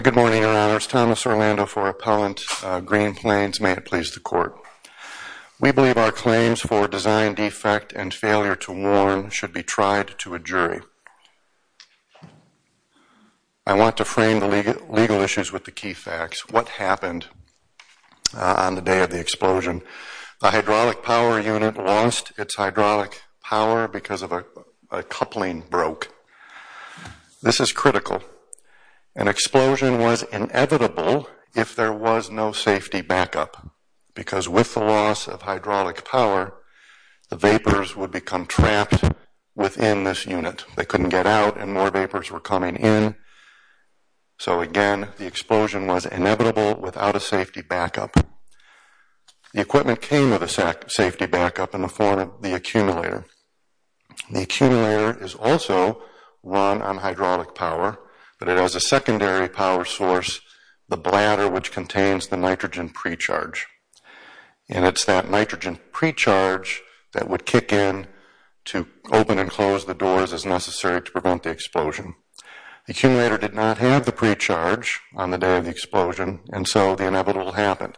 Good morning, Your Honors. Thomas Orlando for Appellant Green Plains. May it please the Court. We believe our claims for design defect and failure to warn should be tried to a jury. I want to frame the legal issues with the key facts. What happened on the day of the explosion? The hydraulic power unit lost its hydraulic power because a coupling broke. This is critical. An explosion was inevitable if there was no safety backup, because with the loss of hydraulic power, the vapors would become trapped within this unit. They couldn't get out and more vapors were coming in. So again, the explosion was inevitable without a safety backup. The equipment came with a safety backup in the form of the accumulator. The accumulator is also run on hydraulic power, but it has a secondary power source, the bladder, which contains the nitrogen pre-charge. And it's that nitrogen pre-charge that would kick in to open and close the doors as necessary to prevent the explosion. The accumulator did not have the pre-charge on the day of the explosion, and so the inevitable happened.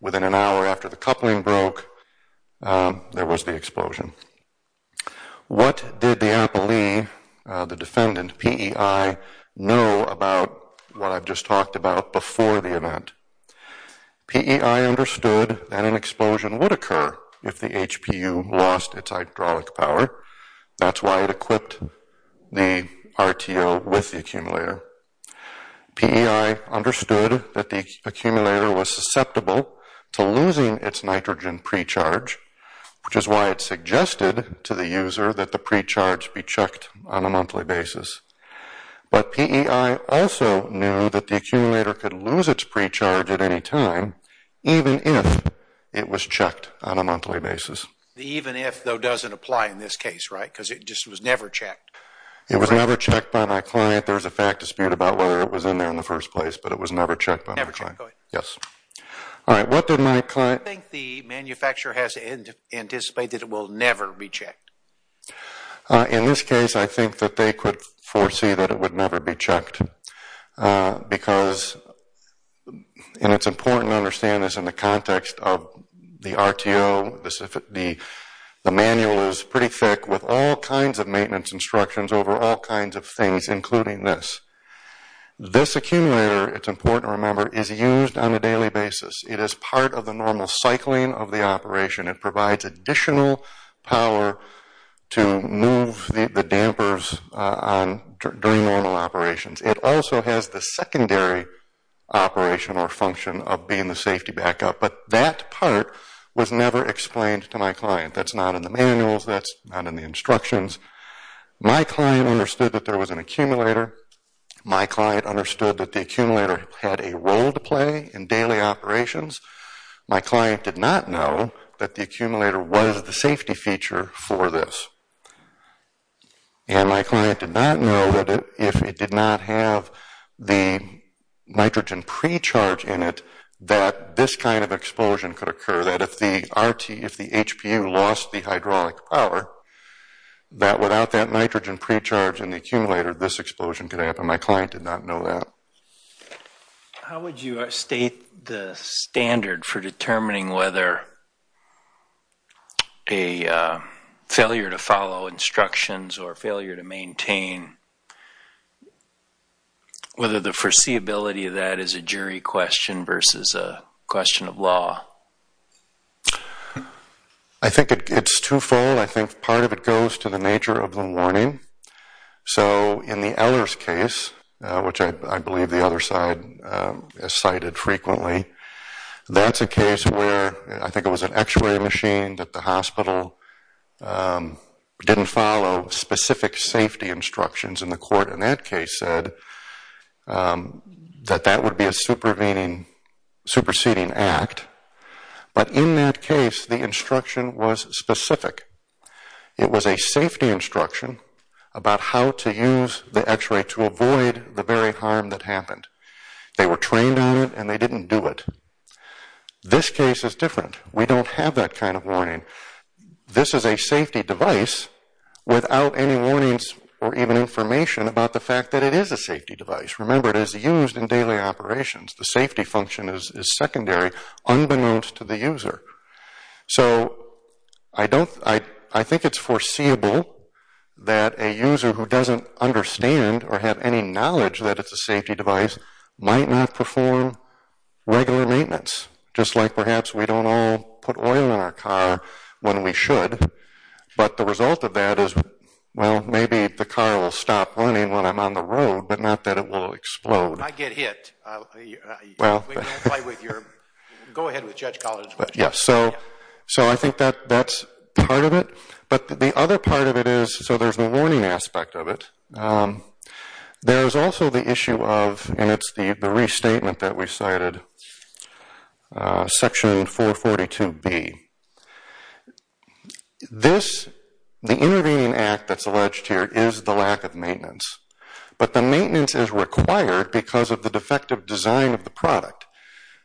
Within an hour after the coupling broke, there was the explosion. What did the appellee, the defendant, P.E.I., know about what I've just talked about before the event? P.E.I. understood that an explosion would occur if the HPU lost its hydraulic power. That's why it equipped the RTO with the accumulator. P.E.I. understood that the accumulator was susceptible to losing its nitrogen pre-charge, which is why it suggested to the user that the pre-charge be checked on a monthly basis. But P.E.I. also knew that the accumulator could lose its pre-charge at any time, even if it was checked on a monthly basis. Even if, though, doesn't apply in this case, right? Because it just was never checked. It was never checked by my client. There was a fact dispute about whether it was in there in the first place, but it was never checked by my client. Never checked, go ahead. Yes. All right, what did my client... I think the manufacturer has anticipated it will never be checked. In this case, I think that they could foresee that it would never be checked. Because, and it's important to understand this in the context of the RTO, the manual is pretty thick with all kinds of maintenance instructions over all kinds of things, including this. This accumulator, it's important to remember, is used on a daily basis. It is part of the normal cycling of the operation. It provides additional power to move the dampers during normal operations. It also has the secondary operation or function of being the safety backup. But that part was never explained to my client. That's not in the manuals. That's not in the instructions. My client understood that there was an accumulator. My client understood that the accumulator had a role to play in daily operations. My client did not know that the accumulator was the safety feature for this. And my client did not know that if it did not have the nitrogen pre-charge in it, that this kind of explosion could occur. That if the RT, if the HPU lost the hydraulic power, that without that nitrogen pre-charge in the accumulator, this explosion could happen. My client did not know that. How would you state the standard for determining whether a failure to follow instructions or failure to maintain, whether the foreseeability of that is a jury question versus a question of law? I think it's twofold. I think part of it goes to the nature of the warning. So in the Ehlers case, which I believe the other side cited frequently, that's a case where I think it was an actuary machine that the hospital didn't follow specific safety instructions in the court. And that case said that that would be a superseding act. But in that case, the instruction was specific. It was a safety instruction about how to use the x-ray to avoid the very harm that happened. They were trained on it and they didn't do it. This case is different. We don't have that kind of warning. This is a safety device without any warnings or even information about the fact that it is a safety device. Remember, it is used in daily operations. The safety function is secondary, unbeknownst to the user. So I think it's foreseeable that a user who doesn't understand or have any knowledge that it's a safety device might not perform regular maintenance, just like perhaps we don't all put oil in our car when we should. But the result of that is, well, maybe the car will stop running when I'm on the road, but not that it will explode. I get hit. Go ahead with Judge Collard's question. Yes, so I think that's part of it. But the other part of it is, so there's the warning aspect of it. There's also the issue of, and it's the restatement that we cited, Section 442B. The intervening act that's alleged here is the lack of maintenance. But the maintenance is required because of the defective design of the product.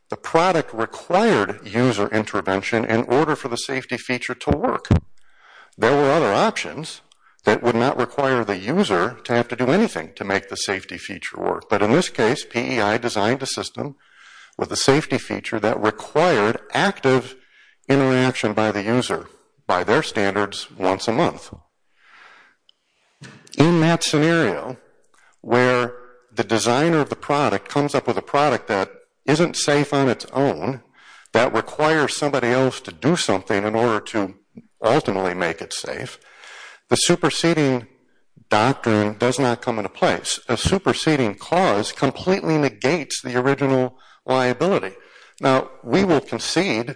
The product required user intervention in order for the safety feature to work. There were other options that would not require the user to have to do anything to make the safety feature work. But in this case, PEI designed a system with a safety feature that required active interaction by the user, by their standards, once a month. In that scenario, where the designer of the product comes up with a product that isn't safe on its own, that requires somebody else to do something in order to ultimately make it safe, the superseding doctrine does not come into place. A superseding cause completely negates the original liability. Now, we will concede,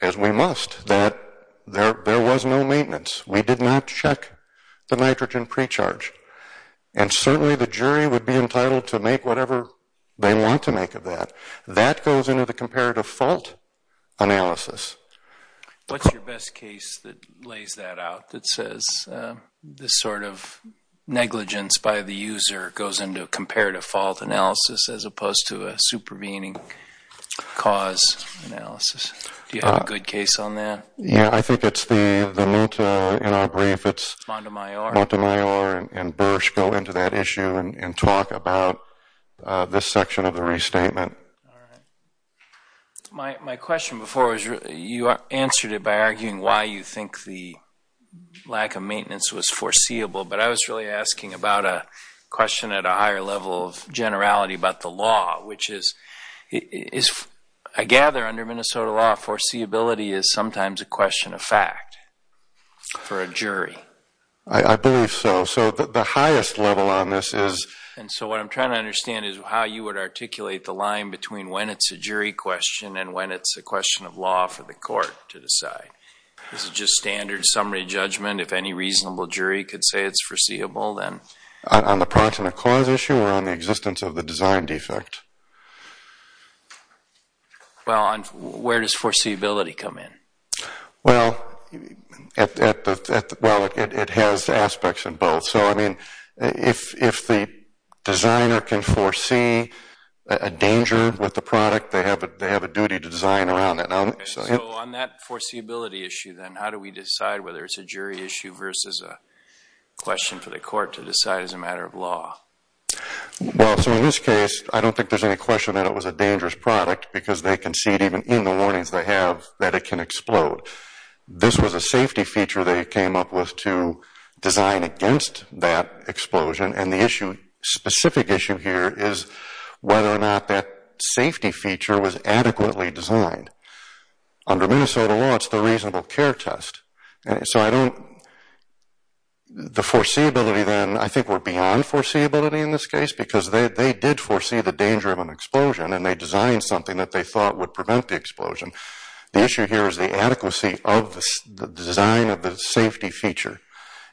as we must, that there was no maintenance. We did not check the nitrogen pre-charge. And certainly the jury would be entitled to make whatever they want to make of that. That goes into the comparative fault analysis. What's your best case that lays that out, that says this sort of negligence by the user goes into a comparative fault analysis as opposed to a supervening cause analysis? Do you have a good case on that? Yeah, I think it's the Luta in our brief. It's Montemayor and Bursch go into that issue and talk about this section of the restatement. My question before was you answered it by arguing why you think the lack of maintenance was foreseeable, but I was really asking about a question at a higher level of generality about the law, which is, I gather under Minnesota law, foreseeability is sometimes a question of fact for a jury. I believe so. So the highest level on this is... And so what I'm trying to understand is how you would articulate the line between when it's a jury question and when it's a question of law for the court to decide. Is it just standard summary judgment? If any reasonable jury could say it's foreseeable, then... On the proximate cause issue or on the existence of the design defect? Well, where does foreseeability come in? Well, it has aspects in both. So, I mean, if the designer can foresee a danger with the product, they have a duty to design around it. So on that foreseeability issue, then, how do we decide whether it's a jury issue versus a question for the court to decide as a matter of law? Well, so in this case, I don't think there's any question that it was a dangerous product because they concede even in the warnings they have that it can explode. This was a safety feature they came up with to design against that explosion, and the specific issue here is whether or not that safety feature was adequately designed. Under Minnesota law, it's the reasonable care test. So I don't...the foreseeability, then, I think we're beyond foreseeability in this case because they did foresee the danger of an explosion, and they designed something that they thought would prevent the explosion. The issue here is the adequacy of the design of the safety feature.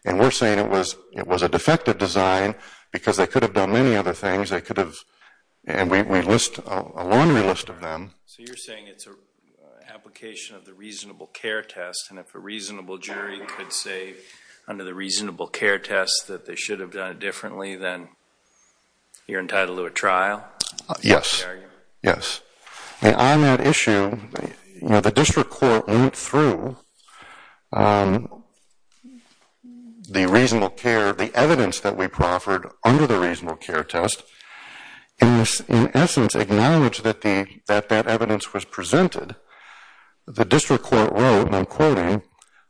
And we're saying it was a defective design because they could have done many other things. They could have...and we list a laundry list of them. So you're saying it's an application of the reasonable care test, and if a reasonable jury could say under the reasonable care test that they should have done it differently, then you're entitled to a trial? Yes. Yes. On that issue, the district court went through the reasonable care, the evidence that we proffered under the reasonable care test, and in essence acknowledged that that evidence was presented. The district court wrote, and I'm quoting,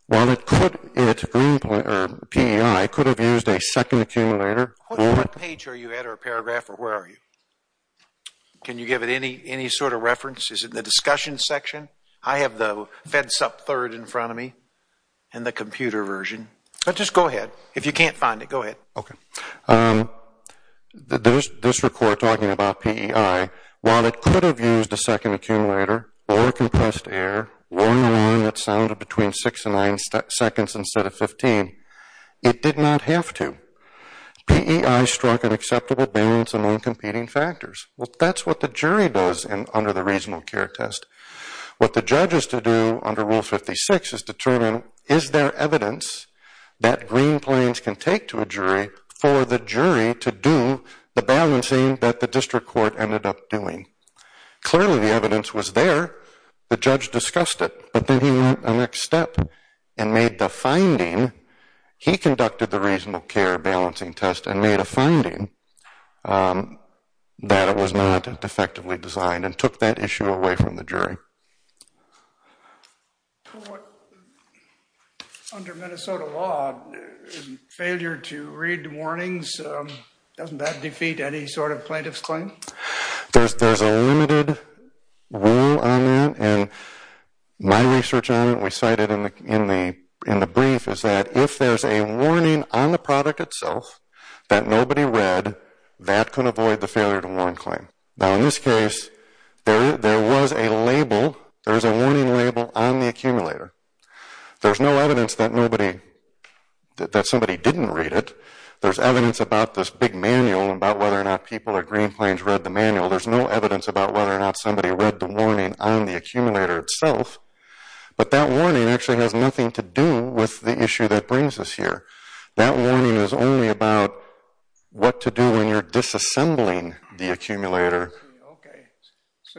while it could...PEI could have used a second accumulator... What page are you at or paragraph or where are you? Can you give it any sort of reference? Is it in the discussion section? I have the fedsup third in front of me and the computer version. Just go ahead. If you can't find it, go ahead. Okay. The district court talking about PEI, while it could have used a second accumulator or compressed air or an alarm that sounded between 6 and 9 seconds instead of 15, it did not have to. PEI struck an acceptable balance among competing factors. That's what the jury does under the reasonable care test. What the judge has to do under Rule 56 is determine, is there evidence that Green Plains can take to a jury for the jury to do the balancing that the district court ended up doing? Clearly, the evidence was there. The judge discussed it, but then he went the next step and made the finding. He conducted the reasonable care balancing test and made a finding that it was not effectively designed and took that issue away from the jury. Under Minnesota law, failure to read warnings, doesn't that defeat any sort of plaintiff's claim? There's a limited rule on that. My research on it, we cited in the brief, is that if there's a warning on the product itself that nobody read, that can avoid the failure to warn claim. In this case, there was a warning label on the accumulator. There's no evidence that somebody didn't read it. There's evidence about this big manual, about whether or not people at Green Plains read the manual. There's no evidence about whether or not somebody read the warning on the accumulator itself, but that warning actually has nothing to do with the issue that brings us here. That warning is only about what to do when you're disassembling the accumulator.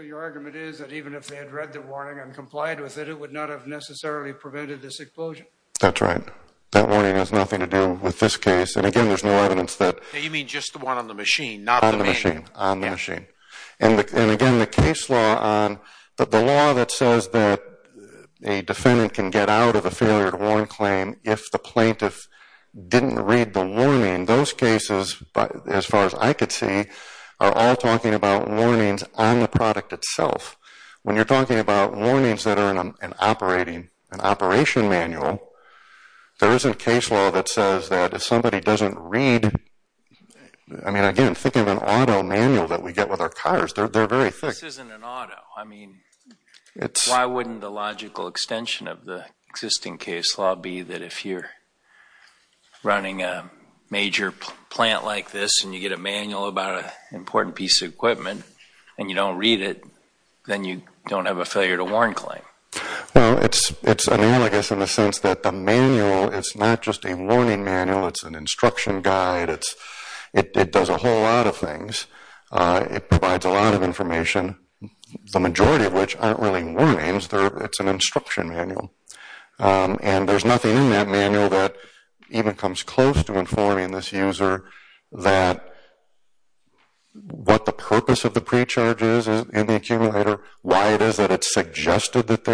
Your argument is that even if they had read the warning and complied with it, it would not have necessarily prevented this explosion? That's right. That warning has nothing to do with this case. Again, there's no evidence that… You mean just the one on the machine, not the manual? On the machine. Again, the case law, the law that says that a defendant can get out of a failure to warn claim if the plaintiff didn't read the warning, those cases, as far as I could see, are all talking about warnings on the product itself. When you're talking about warnings that are in an operation manual, there isn't case law that says that if somebody doesn't read… I mean, again, think of an auto manual that we get with our cars. They're very thick. This isn't an auto. I mean, why wouldn't the logical extension of the existing case law be that if you're running a major plant like this and you get a manual about an important piece of equipment and you don't read it, then you don't have a failure to warn claim? Well, it's analogous in the sense that the manual is not just a warning manual. It's an instruction guide. It does a whole lot of things. It provides a lot of information, the majority of which aren't really warnings. It's an instruction manual. And there's nothing in that manual that even comes close to informing this user that what the purpose of the pre-charge is in the accumulator, why it is that it's suggested that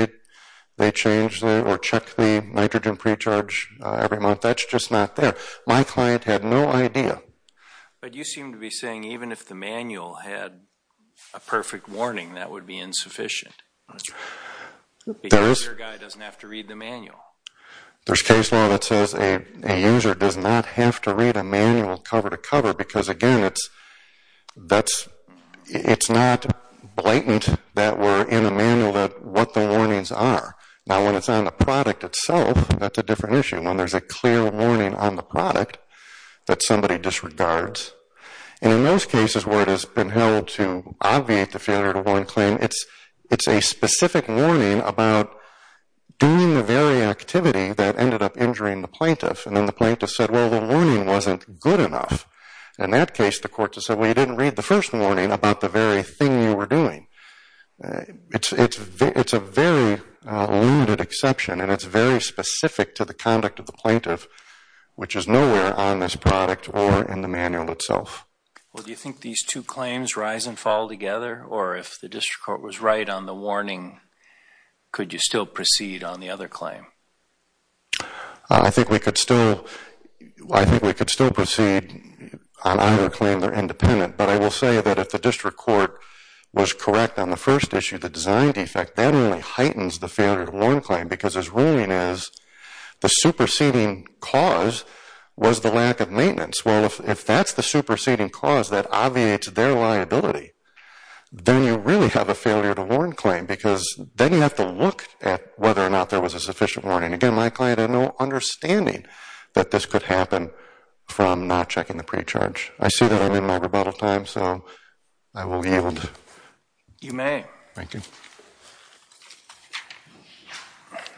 they change or check the nitrogen pre-charge every month. That's just not there. My client had no idea. But you seem to be saying even if the manual had a perfect warning, that would be insufficient. Because your guy doesn't have to read the manual. There's case law that says a user does not have to read a manual cover to cover because, again, it's not blatant that we're in a manual that what the warnings are. Now, when it's on the product itself, that's a different issue. When there's a clear warning on the product that somebody disregards. And in most cases where it has been held to obviate the failure to warn claim, it's a specific warning about doing the very activity that ended up injuring the plaintiff. And then the plaintiff said, well, the warning wasn't good enough. In that case, the court just said, well, you didn't read the first warning about the very thing you were doing. It's a very limited exception, and it's very specific to the conduct of the plaintiff, which is nowhere on this product or in the manual itself. Well, do you think these two claims rise and fall together? Or if the district court was right on the warning, could you still proceed on the other claim? I think we could still proceed on either claim. They're independent. But I will say that if the district court was correct on the first issue, the design defect, that only heightens the failure to warn claim because his ruling is the superseding cause was the lack of maintenance. Well, if that's the superseding cause that obviates their liability, then you really have a failure to warn claim because then you have to look at whether or not there was a sufficient warning. Again, my client had no understanding that this could happen from not checking the pre-charge. I see that I'm in my rebuttal time, so I will yield. You may. Thank you.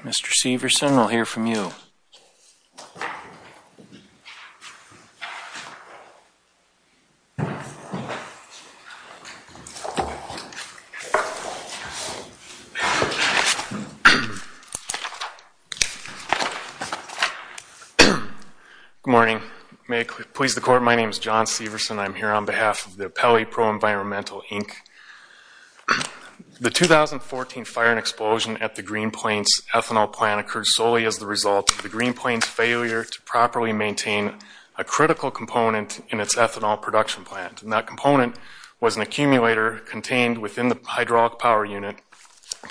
Mr. Severson, we'll hear from you. Good morning. May it please the Court, my name is John Severson. I'm here on behalf of the Appellee Pro-Environmental, Inc. The 2014 fire and explosion at the Green Plains ethanol plant occurred solely as the result of the Green Plains failure to properly maintain a critical component in its ethanol production plant. And that component was an accumulator contained within the hydraulic power unit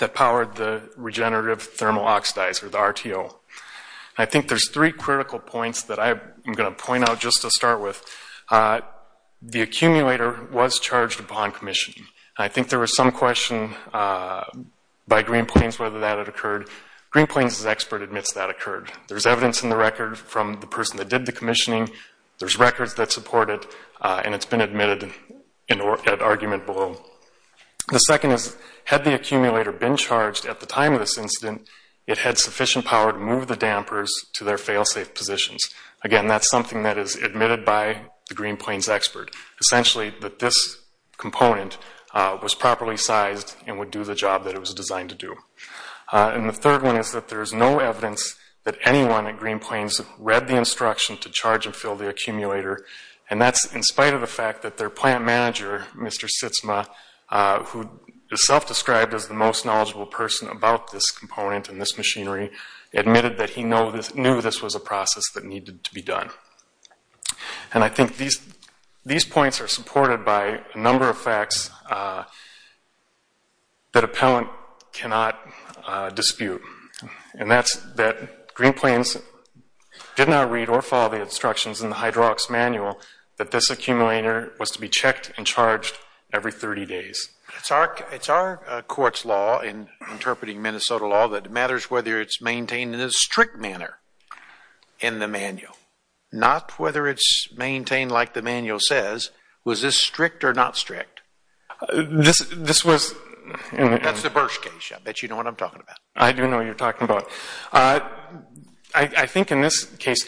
that powered the regenerative thermal oxidizer, the RTO. I think there's three critical points that I'm going to point out just to start with. The accumulator was charged upon commission. I think there was some question by Green Plains whether that had occurred. Green Plains' expert admits that occurred. There's evidence in the record from the person that did the commissioning. There's records that support it, and it's been admitted at argument below. The second is, had the accumulator been charged at the time of this incident, it had sufficient power to move the dampers to their fail-safe positions. Again, that's something that is admitted by the Green Plains expert, essentially that this component was properly sized and would do the job that it was designed to do. And the third one is that there is no evidence that anyone at Green Plains read the instruction to charge and fill the accumulator, and that's in spite of the fact that their plant manager, Mr. Sitzma, who is self-described as the most knowledgeable person about this component and this machinery, admitted that he knew this was a process that needed to be done. And I think these points are supported by a number of facts that appellant cannot dispute, and that's that Green Plains did not read or follow the instructions in the hydraulics manual that this accumulator was to be checked and charged every 30 days. It's our court's law, in interpreting Minnesota law, that matters whether it's maintained in a strict manner in the manual, not whether it's maintained like the manual says. Was this strict or not strict? This was... That's the Bursch case. I bet you know what I'm talking about. I do know what you're talking about. I think in this case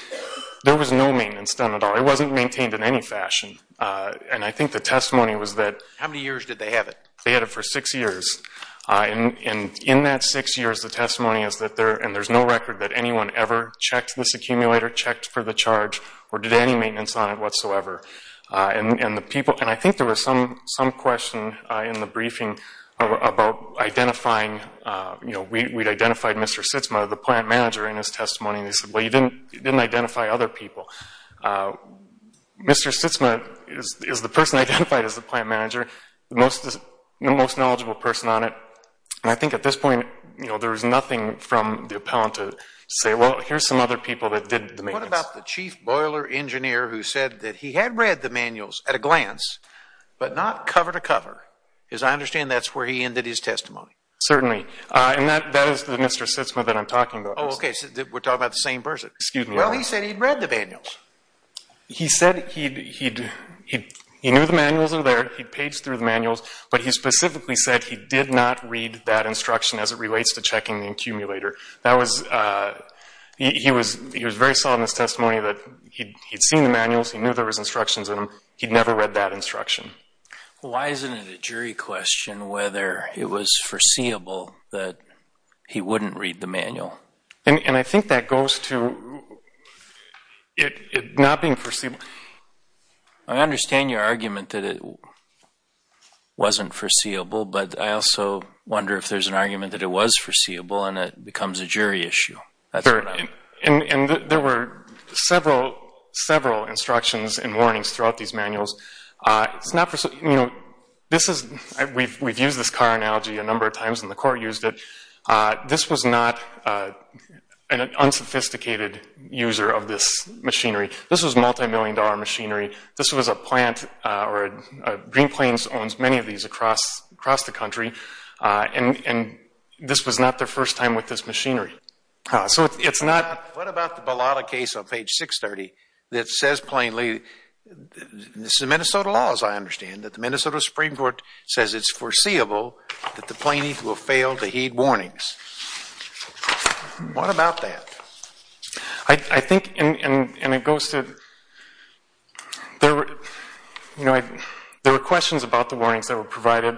there was no maintenance done at all. It wasn't maintained in any fashion, and I think the testimony was that... How many years did they have it? They had it for six years. And in that six years, the testimony is that there's no record that anyone ever checked this accumulator, checked for the charge, or did any maintenance on it whatsoever. And I think there was some question in the briefing about identifying... We'd identified Mr. Sitzma, the plant manager, in his testimony, and they said, well, you didn't identify other people. Mr. Sitzma is the person identified as the plant manager, the most knowledgeable person on it, and I think at this point there was nothing from the appellant to say, well, here's some other people that did the maintenance. What about the chief boiler engineer who said that he had read the manuals at a glance, but not cover to cover? Because I understand that's where he ended his testimony. Certainly. And that is the Mr. Sitzma that I'm talking about. Oh, okay, so we're talking about the same person. Well, he said he'd read the manuals. He said he knew the manuals were there, he'd paged through the manuals, but he specifically said he did not read that instruction as it relates to checking the accumulator. He was very solid in his testimony that he'd seen the manuals, he knew there was instructions in them, he'd never read that instruction. Why isn't it a jury question whether it was foreseeable that he wouldn't read the manual? And I think that goes to it not being foreseeable. I understand your argument that it wasn't foreseeable, but I also wonder if there's an argument that it was foreseeable and it becomes a jury issue. And there were several instructions and warnings throughout these manuals. We've used this car analogy a number of times and the court used it. This was not an unsophisticated user of this machinery. This was multi-million dollar machinery. This was a plant, Green Plains owns many of these across the country, and this was not their first time with this machinery. So it's not... What about the Bellotta case on page 630 that says plainly, this is a Minnesota law as I understand it, the Minnesota Supreme Court says it's foreseeable that the plaintiff will fail to heed warnings. What about that? I think, and it goes to, there were questions about the warnings that were provided,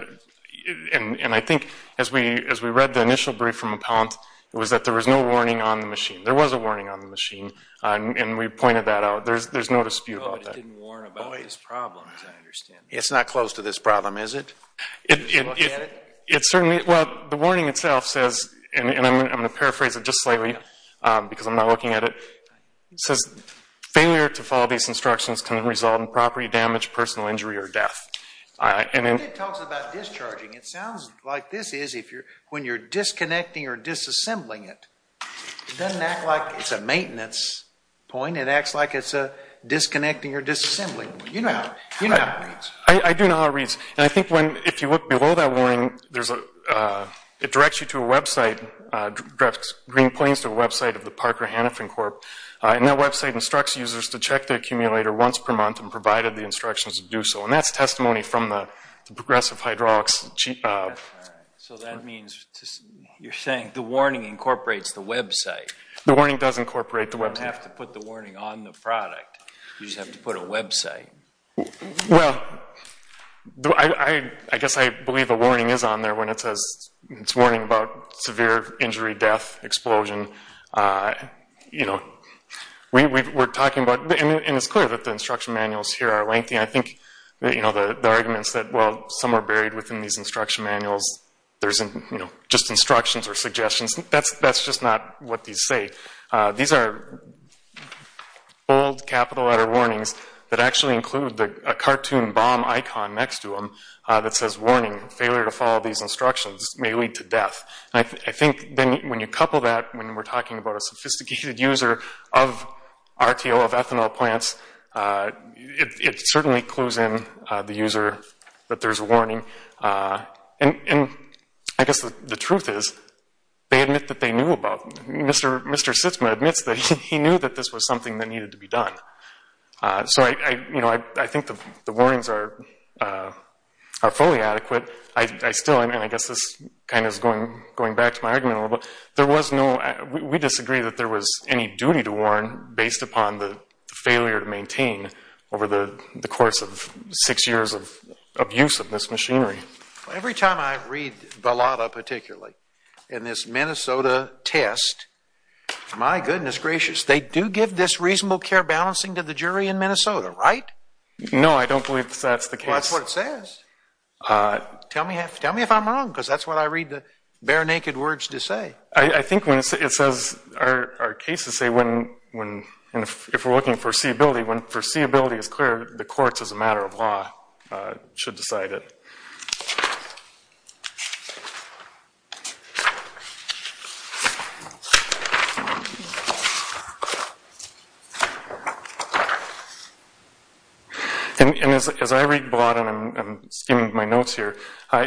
and I think as we read the initial brief from Appellant, it was that there was no warning on the machine. There was a warning on the machine, and we pointed that out. There's no dispute about that. I didn't warn about this problem as I understand it. It's not close to this problem, is it? It certainly, well, the warning itself says, and I'm going to paraphrase it just slightly because I'm not looking at it, it says failure to follow these instructions can result in property damage, personal injury, or death. It talks about discharging. It sounds like this is when you're disconnecting or disassembling it. It doesn't act like it's a maintenance point. It acts like it's a disconnecting or disassembling point. You know how it reads. I do know how it reads, and I think if you look below that warning, it directs you to a website, it directs Green Plains to a website of the Parker Hanifin Corp, and that website instructs users to check their accumulator once per month and provided the instructions to do so, and that's testimony from the Progressive Hydraulics. So that means you're saying the warning incorporates the website. The warning does incorporate the website. You don't have to put the warning on the product. You just have to put a website. Well, I guess I believe a warning is on there when it says it's warning about severe injury, death, explosion. You know, we're talking about, and it's clear that the instruction manuals here are lengthy, and I think the argument is that, well, some are buried within these instruction manuals. There isn't just instructions or suggestions. That's just not what these say. These are bold capital letter warnings that actually include a cartoon bomb icon next to them that says, warning, failure to follow these instructions may lead to death. And I think then when you couple that, when we're talking about a sophisticated user of RTO, of ethanol plants, it certainly clues in the user that there's a warning. And I guess the truth is, they admit that they knew about it. Mr. Sitzma admits that he knew that this was something that needed to be done. So, you know, I think the warnings are fully adequate. I still, and I guess this kind of is going back to my argument a little bit, there was no, we disagree that there was any duty to warn based upon the failure to maintain over the course of six years of use of this machinery. Every time I read Vallada, particularly, in this Minnesota test, my goodness gracious, they do give this reasonable care balancing to the jury in Minnesota, right? No, I don't believe that's the case. Well, that's what it says. Tell me if I'm wrong, because that's what I read the bare naked words to say. I think when it says, our cases say when, if we're looking for seeability, when foreseeability is clear, the courts, as a matter of law, should decide it. And as I read Vallada, and I'm skimming my notes here,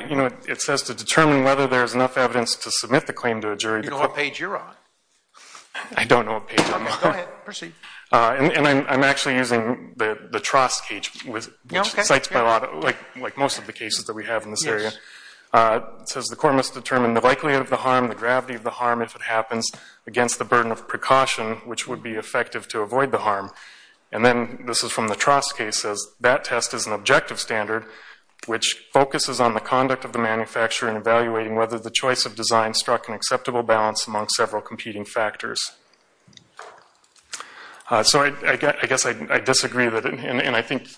you know, it says to determine whether there's enough evidence to submit the claim to a jury. Do you know what page you're on? I don't know what page I'm on. Okay, go ahead, proceed. And I'm actually using the Trost page, which cites Vallada, like most of the cases that we have in this area. It says the court must determine the likelihood of the harm, the gravity of the harm, if it happens, against the burden of precaution, which would be effective to avoid the harm. And then this is from the Trost case. It says that test is an objective standard, which focuses on the conduct of the manufacturer in evaluating whether the choice of design struck an acceptable balance among several competing factors. So I guess I disagree. And I think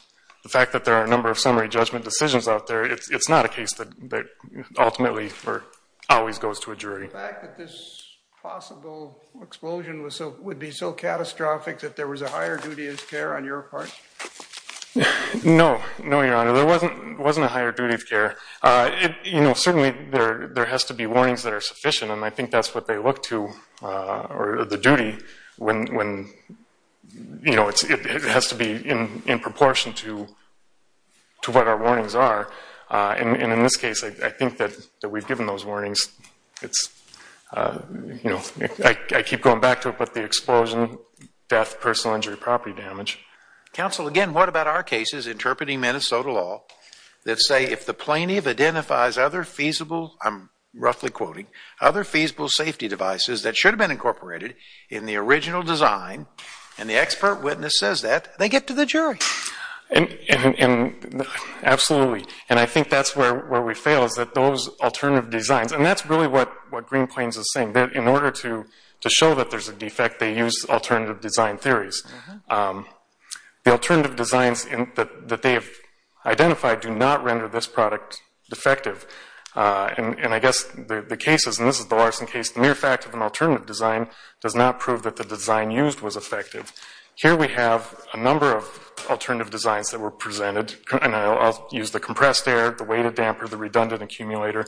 the fact that there are a number of summary judgment decisions out there, it's not a case that ultimately always goes to a jury. The fact that this possible explosion would be so catastrophic that there was a higher duty of care on your part? No. No, Your Honor, there wasn't a higher duty of care. You know, certainly there has to be warnings that are sufficient, and I think that's what they look to, or the duty, when, you know, it has to be in proportion to what our warnings are. And in this case, I think that we've given those warnings. It's, you know, I keep going back to it, but the explosion, death, personal injury, property damage. Counsel, again, what about our cases interpreting Minnesota law that say if the plaintiff identifies other feasible, I'm roughly quoting, other feasible safety devices that should have been incorporated in the original design and the expert witness says that, they get to the jury? Absolutely. And I think that's where we fail is that those alternative designs, and that's really what Green Plains is saying, that in order to show that there's a defect, they use alternative design theories. The alternative designs that they have identified do not render this product defective. And I guess the case is, and this is the Larson case, the mere fact of an alternative design does not prove that the design used was effective. Here we have a number of alternative designs that were presented, and I'll use the compressed air, the weighted damper, the redundant accumulator.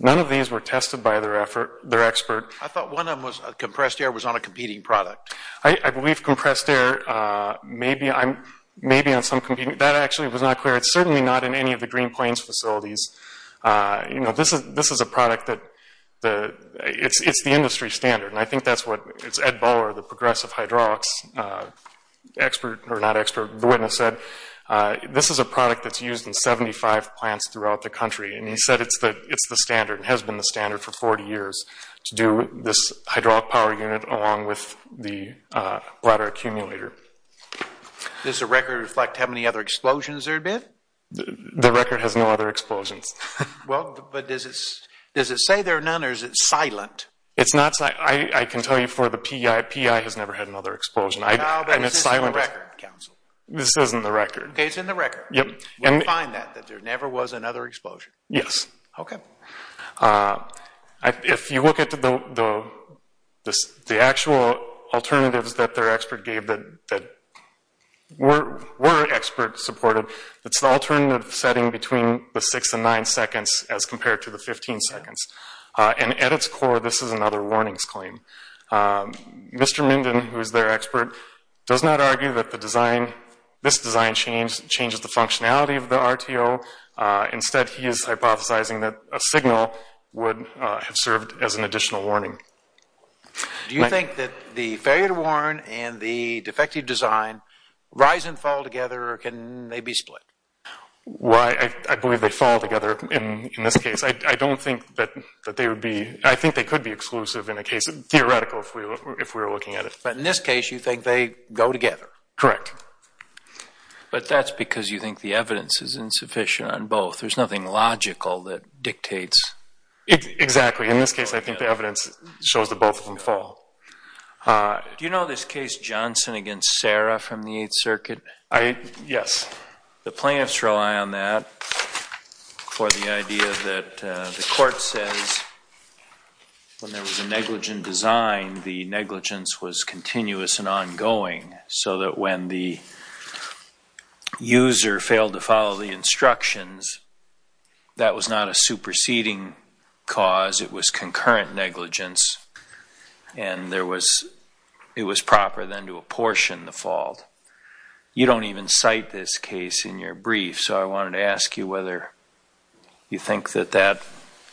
None of these were tested by their expert. I thought one of them was compressed air was on a competing product. I believe compressed air may be on some competing, that actually was not clear. It's certainly not in any of the Green Plains facilities. This is a product that, it's the industry standard, and I think that's what Ed Bauer, the progressive hydraulics expert, or not expert, the witness said, this is a product that's used in 75 plants throughout the country. And he said it's the standard, and has been the standard for 40 years, to do this hydraulic power unit along with the bladder accumulator. The record has no other explosions. Well, but does it say there are none, or is it silent? It's not silent. I can tell you for the P.E.I., P.E.I. has never had another explosion. No, but this is in the record, counsel. This isn't the record. Okay, it's in the record. Yep. We'll find that, that there never was another explosion. Yes. Okay. If you look at the actual alternatives that their expert gave that were expert supported, it's the alternative setting between the 6 and 9 seconds as compared to the 15 seconds. And at its core, this is another warnings claim. Mr. Minden, who is their expert, does not argue that the design, this design changes the functionality of the RTO. Instead, he is hypothesizing that a signal would have served as an additional warning. Do you think that the failure to warn and the defective design rise and fall together, or can they be split? Well, I believe they fall together in this case. I don't think that they would be. I think they could be exclusive in a case, theoretical, if we were looking at it. But in this case, you think they go together. Correct. But that's because you think the evidence is insufficient on both. There's nothing logical that dictates. Exactly. In this case, I think the evidence shows that both of them fall. Do you know this case Johnson against Sarah from the Eighth Circuit? Yes. The plaintiffs rely on that for the idea that the court says when there was a negligent design, the negligence was continuous and ongoing, so that when the user failed to follow the instructions, that was not a superseding cause. It was concurrent negligence, and it was proper then to apportion the fault. You don't even cite this case in your brief, so I wanted to ask you whether you think that that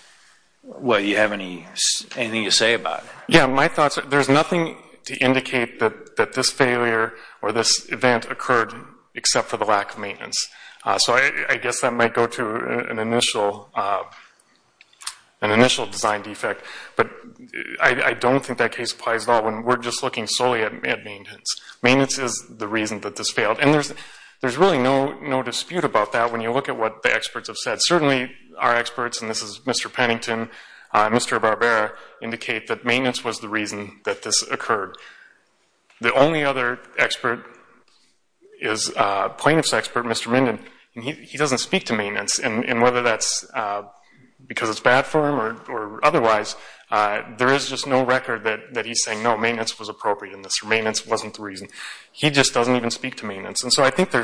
– well, do you have anything to say about it? Yes. My thoughts are there's nothing to indicate that this failure or this event occurred except for the lack of maintenance. So I guess that might go to an initial design defect, but I don't think that case applies at all when we're just looking solely at maintenance. Maintenance is the reason that this failed, and there's really no dispute about that when you look at what the experts have said. Certainly our experts, and this is Mr. Pennington, Mr. Barbera, indicate that maintenance was the reason that this occurred. The only other expert is plaintiff's expert, Mr. Minden, and he doesn't speak to maintenance, and whether that's because it's bad for him or otherwise, there is just no record that he's saying, no, maintenance was appropriate in this, or maintenance wasn't the reason. He just doesn't even speak to maintenance, and so I think there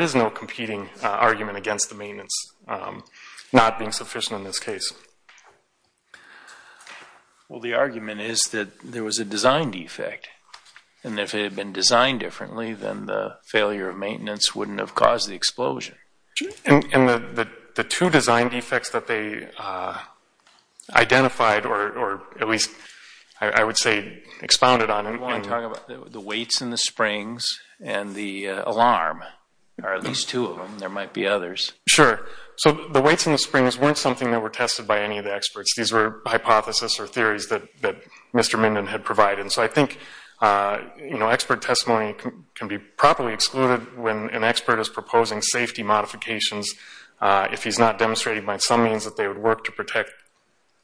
is no competing argument against the maintenance not being sufficient in this case. Well, the argument is that there was a design defect, and if it had been designed differently, then the failure of maintenance wouldn't have caused the explosion. And the two design defects that they identified, or at least I would say expounded on. I want to talk about the weights in the springs and the alarm, or at least two of them. There might be others. Sure. So the weights in the springs weren't something that were tested by any of the experts. These were hypotheses or theories that Mr. Minden had provided, and so I think expert testimony can be properly excluded when an expert is proposing safety modifications. If he's not demonstrating by some means that they would work to protect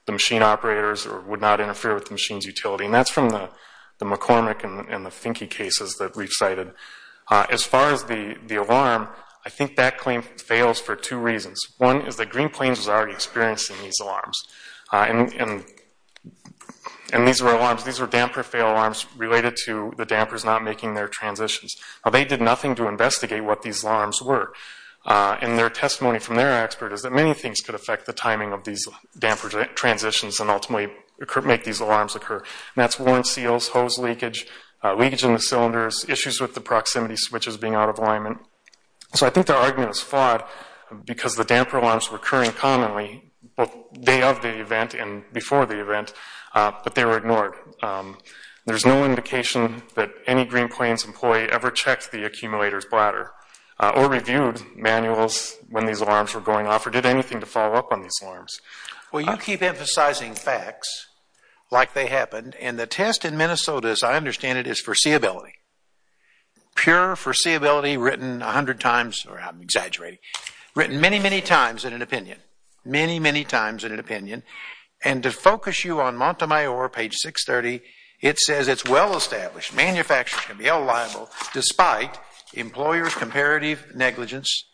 the machine operators or would not interfere with the machine's utility, and that's from the McCormick and the Finke cases that we've cited. As far as the alarm, I think that claim fails for two reasons. One is that Green Plains was already experiencing these alarms, and these were alarms, these were damper fail alarms related to the dampers not making their transitions. Now they did nothing to investigate what these alarms were, and their testimony from their expert is that many things could affect the timing of these damper transitions and ultimately make these alarms occur, and that's worn seals, hose leakage, leakage in the cylinders, issues with the proximity switches being out of alignment. So I think their argument is flawed because the damper alarms were occurring commonly, both day of the event and before the event, but they were ignored. There's no indication that any Green Plains employee ever checked the accumulator's bladder or reviewed manuals when these alarms were going off or did anything to follow up on these alarms. Well, you keep emphasizing facts like they happened, and the test in Minnesota, as I understand it, is foreseeability, pure foreseeability written a hundred times, or I'm exaggerating, written many, many times in an opinion, many, many times in an opinion. And to focus you on Montemayor, page 630, it says it's well-established. Manufacturers can be held liable despite employer's comparative negligence.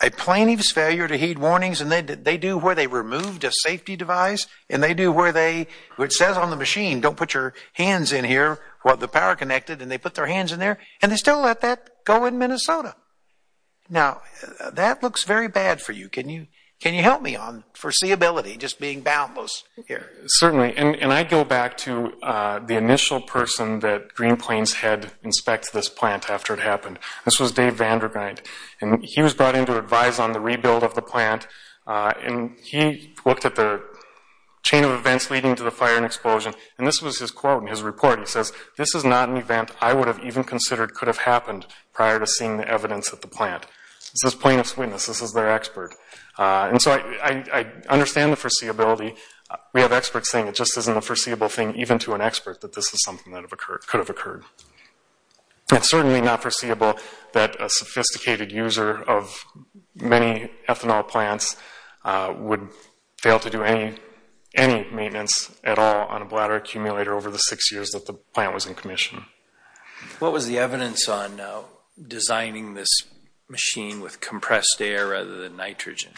A plaintiff's failure to heed warnings, and they do where they removed a safety device, and they do where it says on the machine, don't put your hands in here, who have the power connected, and they put their hands in there, and they still let that go in Minnesota. Now, that looks very bad for you. Can you help me on foreseeability, just being boundless here? Certainly, and I go back to the initial person that Green Plains had inspect this plant after it happened. This was Dave Vandergrind, and he was brought in to advise on the rebuild of the plant, and he looked at the chain of events leading to the fire and explosion, and this was his quote in his report. He says, this is not an event I would have even considered could have happened prior to seeing the evidence at the plant. This is plaintiff's witness. This is their expert. And so I understand the foreseeability. We have experts saying it just isn't a foreseeable thing, even to an expert, that this is something that could have occurred. It's certainly not foreseeable that a sophisticated user of many ethanol plants would fail to do any maintenance at all on a bladder accumulator over the six years that the plant was in commission. What was the evidence on designing this machine with compressed air rather than nitrogen,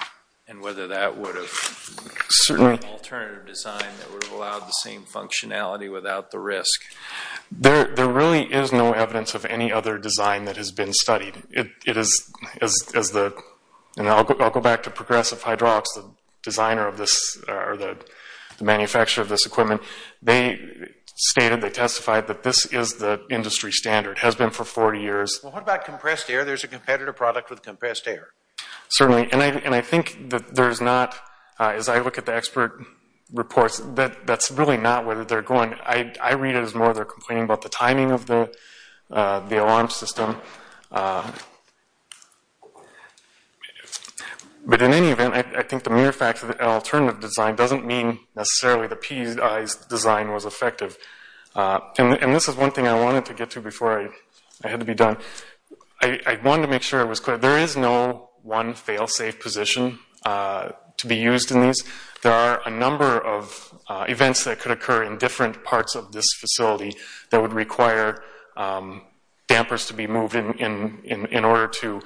and whether that would have certainly an alternative design that would have allowed the same functionality without the risk? There really is no evidence of any other design that has been studied. I'll go back to Progressive Hydraulics, the designer of this, or the manufacturer of this equipment. They stated, they testified, that this is the industry standard. It has been for 40 years. Well, what about compressed air? There's a competitor product with compressed air. Certainly, and I think that there's not, as I look at the expert reports, that's really not where they're going. I read it as more they're complaining about the timing of the alarm system. But in any event, I think the mere fact that an alternative design doesn't mean necessarily the PEI's design was effective. And this is one thing I wanted to get to before I had to be done. I wanted to make sure I was clear. There is no one fail-safe position to be used in these. There are a number of events that could occur in different parts of this facility that would require dampers to be moved in order to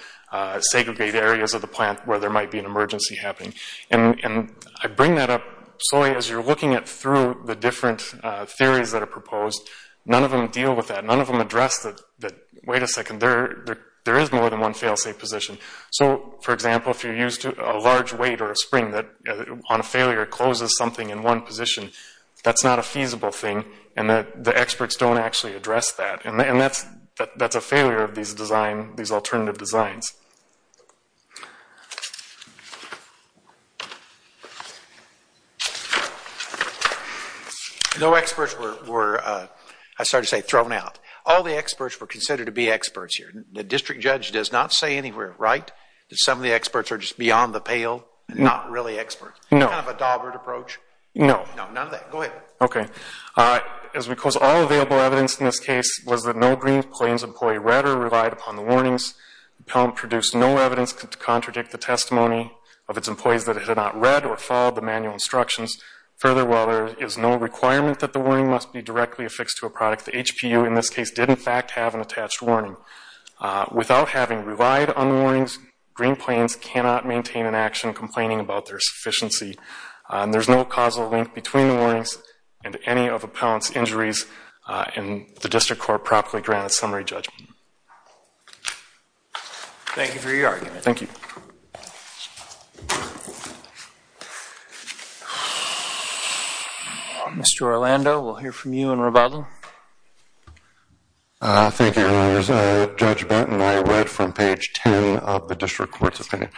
segregate areas of the plant where there might be an emergency happening. And I bring that up slowly as you're looking through the different theories that are proposed. None of them deal with that. None of them address that, wait a second, there is more than one fail-safe position. So, for example, if you're used to a large weight or a spring that, on a failure, closes something in one position, that's not a feasible thing, and the experts don't actually address that. And that's a failure of these alternative designs. No experts were, I'm sorry to say, thrown out. All the experts were considered to be experts here. The district judge does not say anywhere, right, that some of the experts are just beyond the pale and not really experts. No. Kind of a Dawbert approach. No. No, none of that. Go ahead. Okay. As we close, all available evidence in this case was that no Green Plains employee read or relied upon the warnings. The plant produced no evidence to contradict the testimony of its employees that it had not read or followed the manual instructions. Further, while there is no requirement that the warning must be directly affixed to a product, the HPU in this case did, in fact, have an attached warning. Without having relied on the warnings, Green Plains cannot maintain an action complaining about their sufficiency. There's no causal link between the warnings and any of the appellant's injuries and the district court properly granted summary judgment. Thank you for your argument. Thank you. Thank you. Mr. Orlando, we'll hear from you in rebuttal. Thank you, Your Honors. Judge Benton, I read from page 10 of the district court's opinion.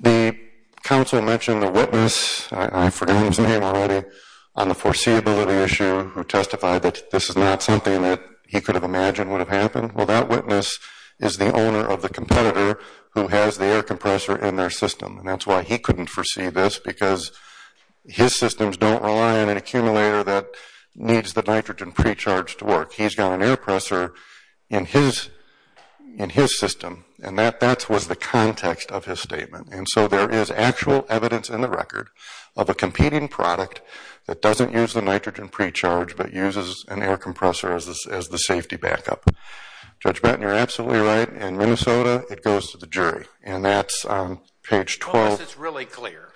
The counsel mentioned the witness, I forgot his name already, on the foreseeability issue who testified that this is not something that he could have imagined would have happened. Well, that witness is the owner of the competitor who has the air compressor in their system. And that's why he couldn't foresee this, because his systems don't rely on an accumulator that needs the nitrogen pre-charge to work. He's got an air compressor in his system. And that was the context of his statement. And so there is actual evidence in the record of a competing product that doesn't use the nitrogen pre-charge but uses an air compressor as the safety backup. Judge Benton, you're absolutely right. In Minnesota, it goes to the jury. And that's on page 12. Well, this is really clear.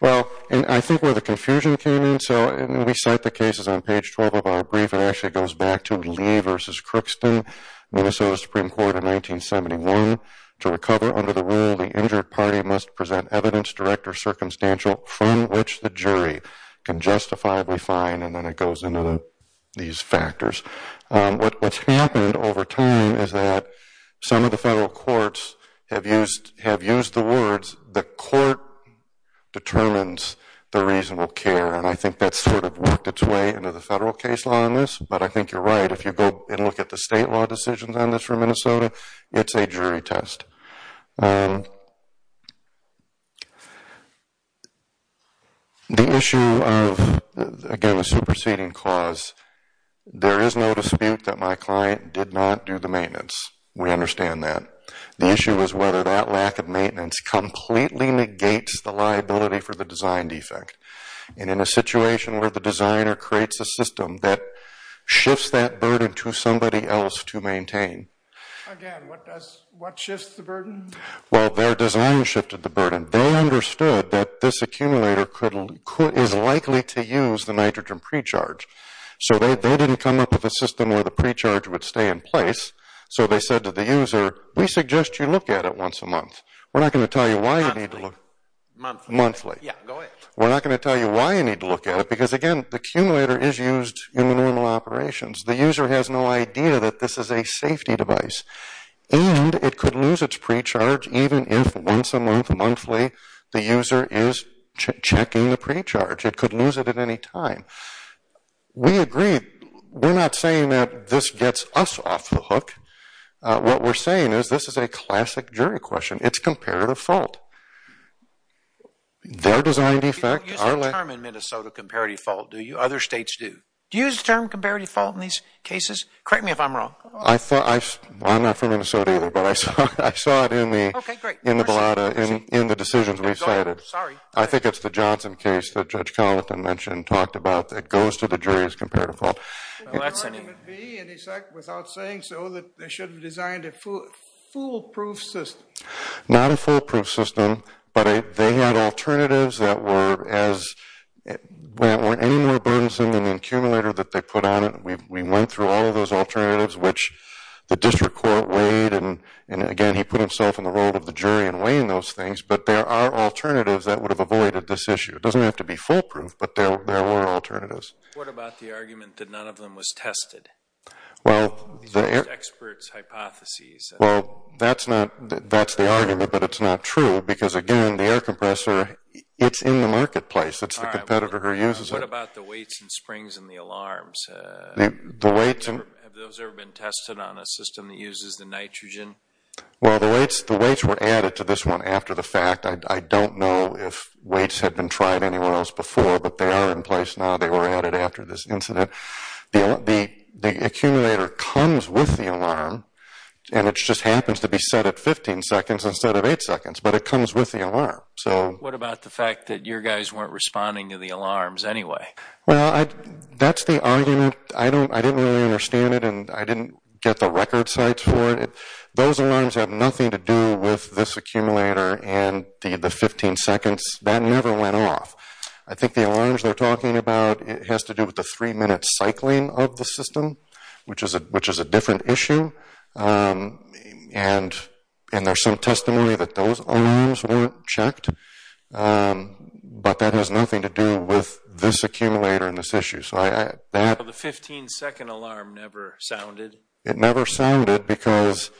Well, I think where the confusion came in, and we cite the cases on page 12 of our brief, it actually goes back to Lee v. Crookston, Minnesota Supreme Court in 1971. To recover under the rule, the injured party must present evidence direct or circumstantial from which the jury can justifiably find. And then it goes into these factors. What's happened over time is that some of the federal courts have used the words, the court determines the reasonable care. And I think that's sort of worked its way into the federal case law in this. But I think you're right. If you go and look at the state law decisions on this for Minnesota, it's a jury test. The issue of, again, the superseding clause, there is no dispute that my client did not do the maintenance. We understand that. The issue is whether that lack of maintenance completely negates the liability for the design defect. And in a situation where the designer creates a system that shifts that burden to somebody else to maintain. Again, what shifts the burden? Well, their design shifted the burden. They understood that this accumulator is likely to use the nitrogen pre-charge. So they didn't come up with a system where the pre-charge would stay in place. So they said to the user, we suggest you look at it once a month. We're not going to tell you why you need to look. Monthly. Monthly. Yeah, go ahead. We're not going to tell you why you need to look at it because, again, the accumulator is used in the normal operations. The user has no idea that this is a safety device. And it could lose its pre-charge even if once a month, monthly, the user is checking the pre-charge. It could lose it at any time. We agree. We're not saying that this gets us off the hook. What we're saying is this is a classic jury question. It's comparative fault. Their design defect. You don't use that term in Minnesota, comparative fault, do you? Other states do. Do you use the term comparative fault in these cases? Correct me if I'm wrong. I'm not from Minnesota either. But I saw it in the balada, in the decisions we cited. Sorry. I think it's the Johnson case that Judge Collington mentioned and talked about that goes to the jury as comparative fault. Could the argument be, without saying so, that they should have designed a foolproof system? Not a foolproof system. But they had alternatives that weren't any more burdensome than the accumulator that they put on it. We went through all of those alternatives, which the district court weighed. And, again, he put himself in the role of the jury in weighing those things. But there are alternatives that would have avoided this issue. It doesn't have to be foolproof, but there were alternatives. What about the argument that none of them was tested? Experts' hypotheses. Well, that's the argument, but it's not true. Because, again, the air compressor, it's in the marketplace. It's the competitor who uses it. What about the weights and springs and the alarms? Have those ever been tested on a system that uses the nitrogen? Well, the weights were added to this one after the fact. I don't know if weights had been tried anywhere else before, but they are in place now. They were added after this incident. The accumulator comes with the alarm, and it just happens to be set at 15 seconds instead of 8 seconds. But it comes with the alarm. What about the fact that your guys weren't responding to the alarms anyway? Well, that's the argument. I didn't really understand it, and I didn't get the record sites for it. Those alarms have nothing to do with this accumulator and the 15 seconds. That never went off. I think the alarms they're talking about has to do with the 3-minute cycling of the system, which is a different issue. And there's some testimony that those alarms weren't checked. But that has nothing to do with this accumulator and this issue. So the 15-second alarm never sounded? It never sounded because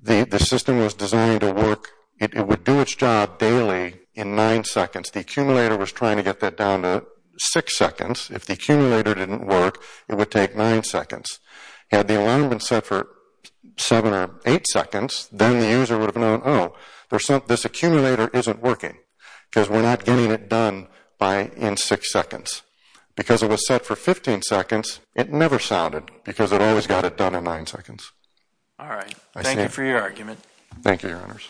the system was designed to work. It would do its job daily in 9 seconds. The accumulator was trying to get that down to 6 seconds. If the accumulator didn't work, it would take 9 seconds. Had the alarm been set for 7 or 8 seconds, then the user would have known, oh, this accumulator isn't working because we're not getting it done in 6 seconds. Because it was set for 15 seconds, it never sounded because it always got it done in 9 seconds. All right. Thank you for your argument. Thank you, Your Honors.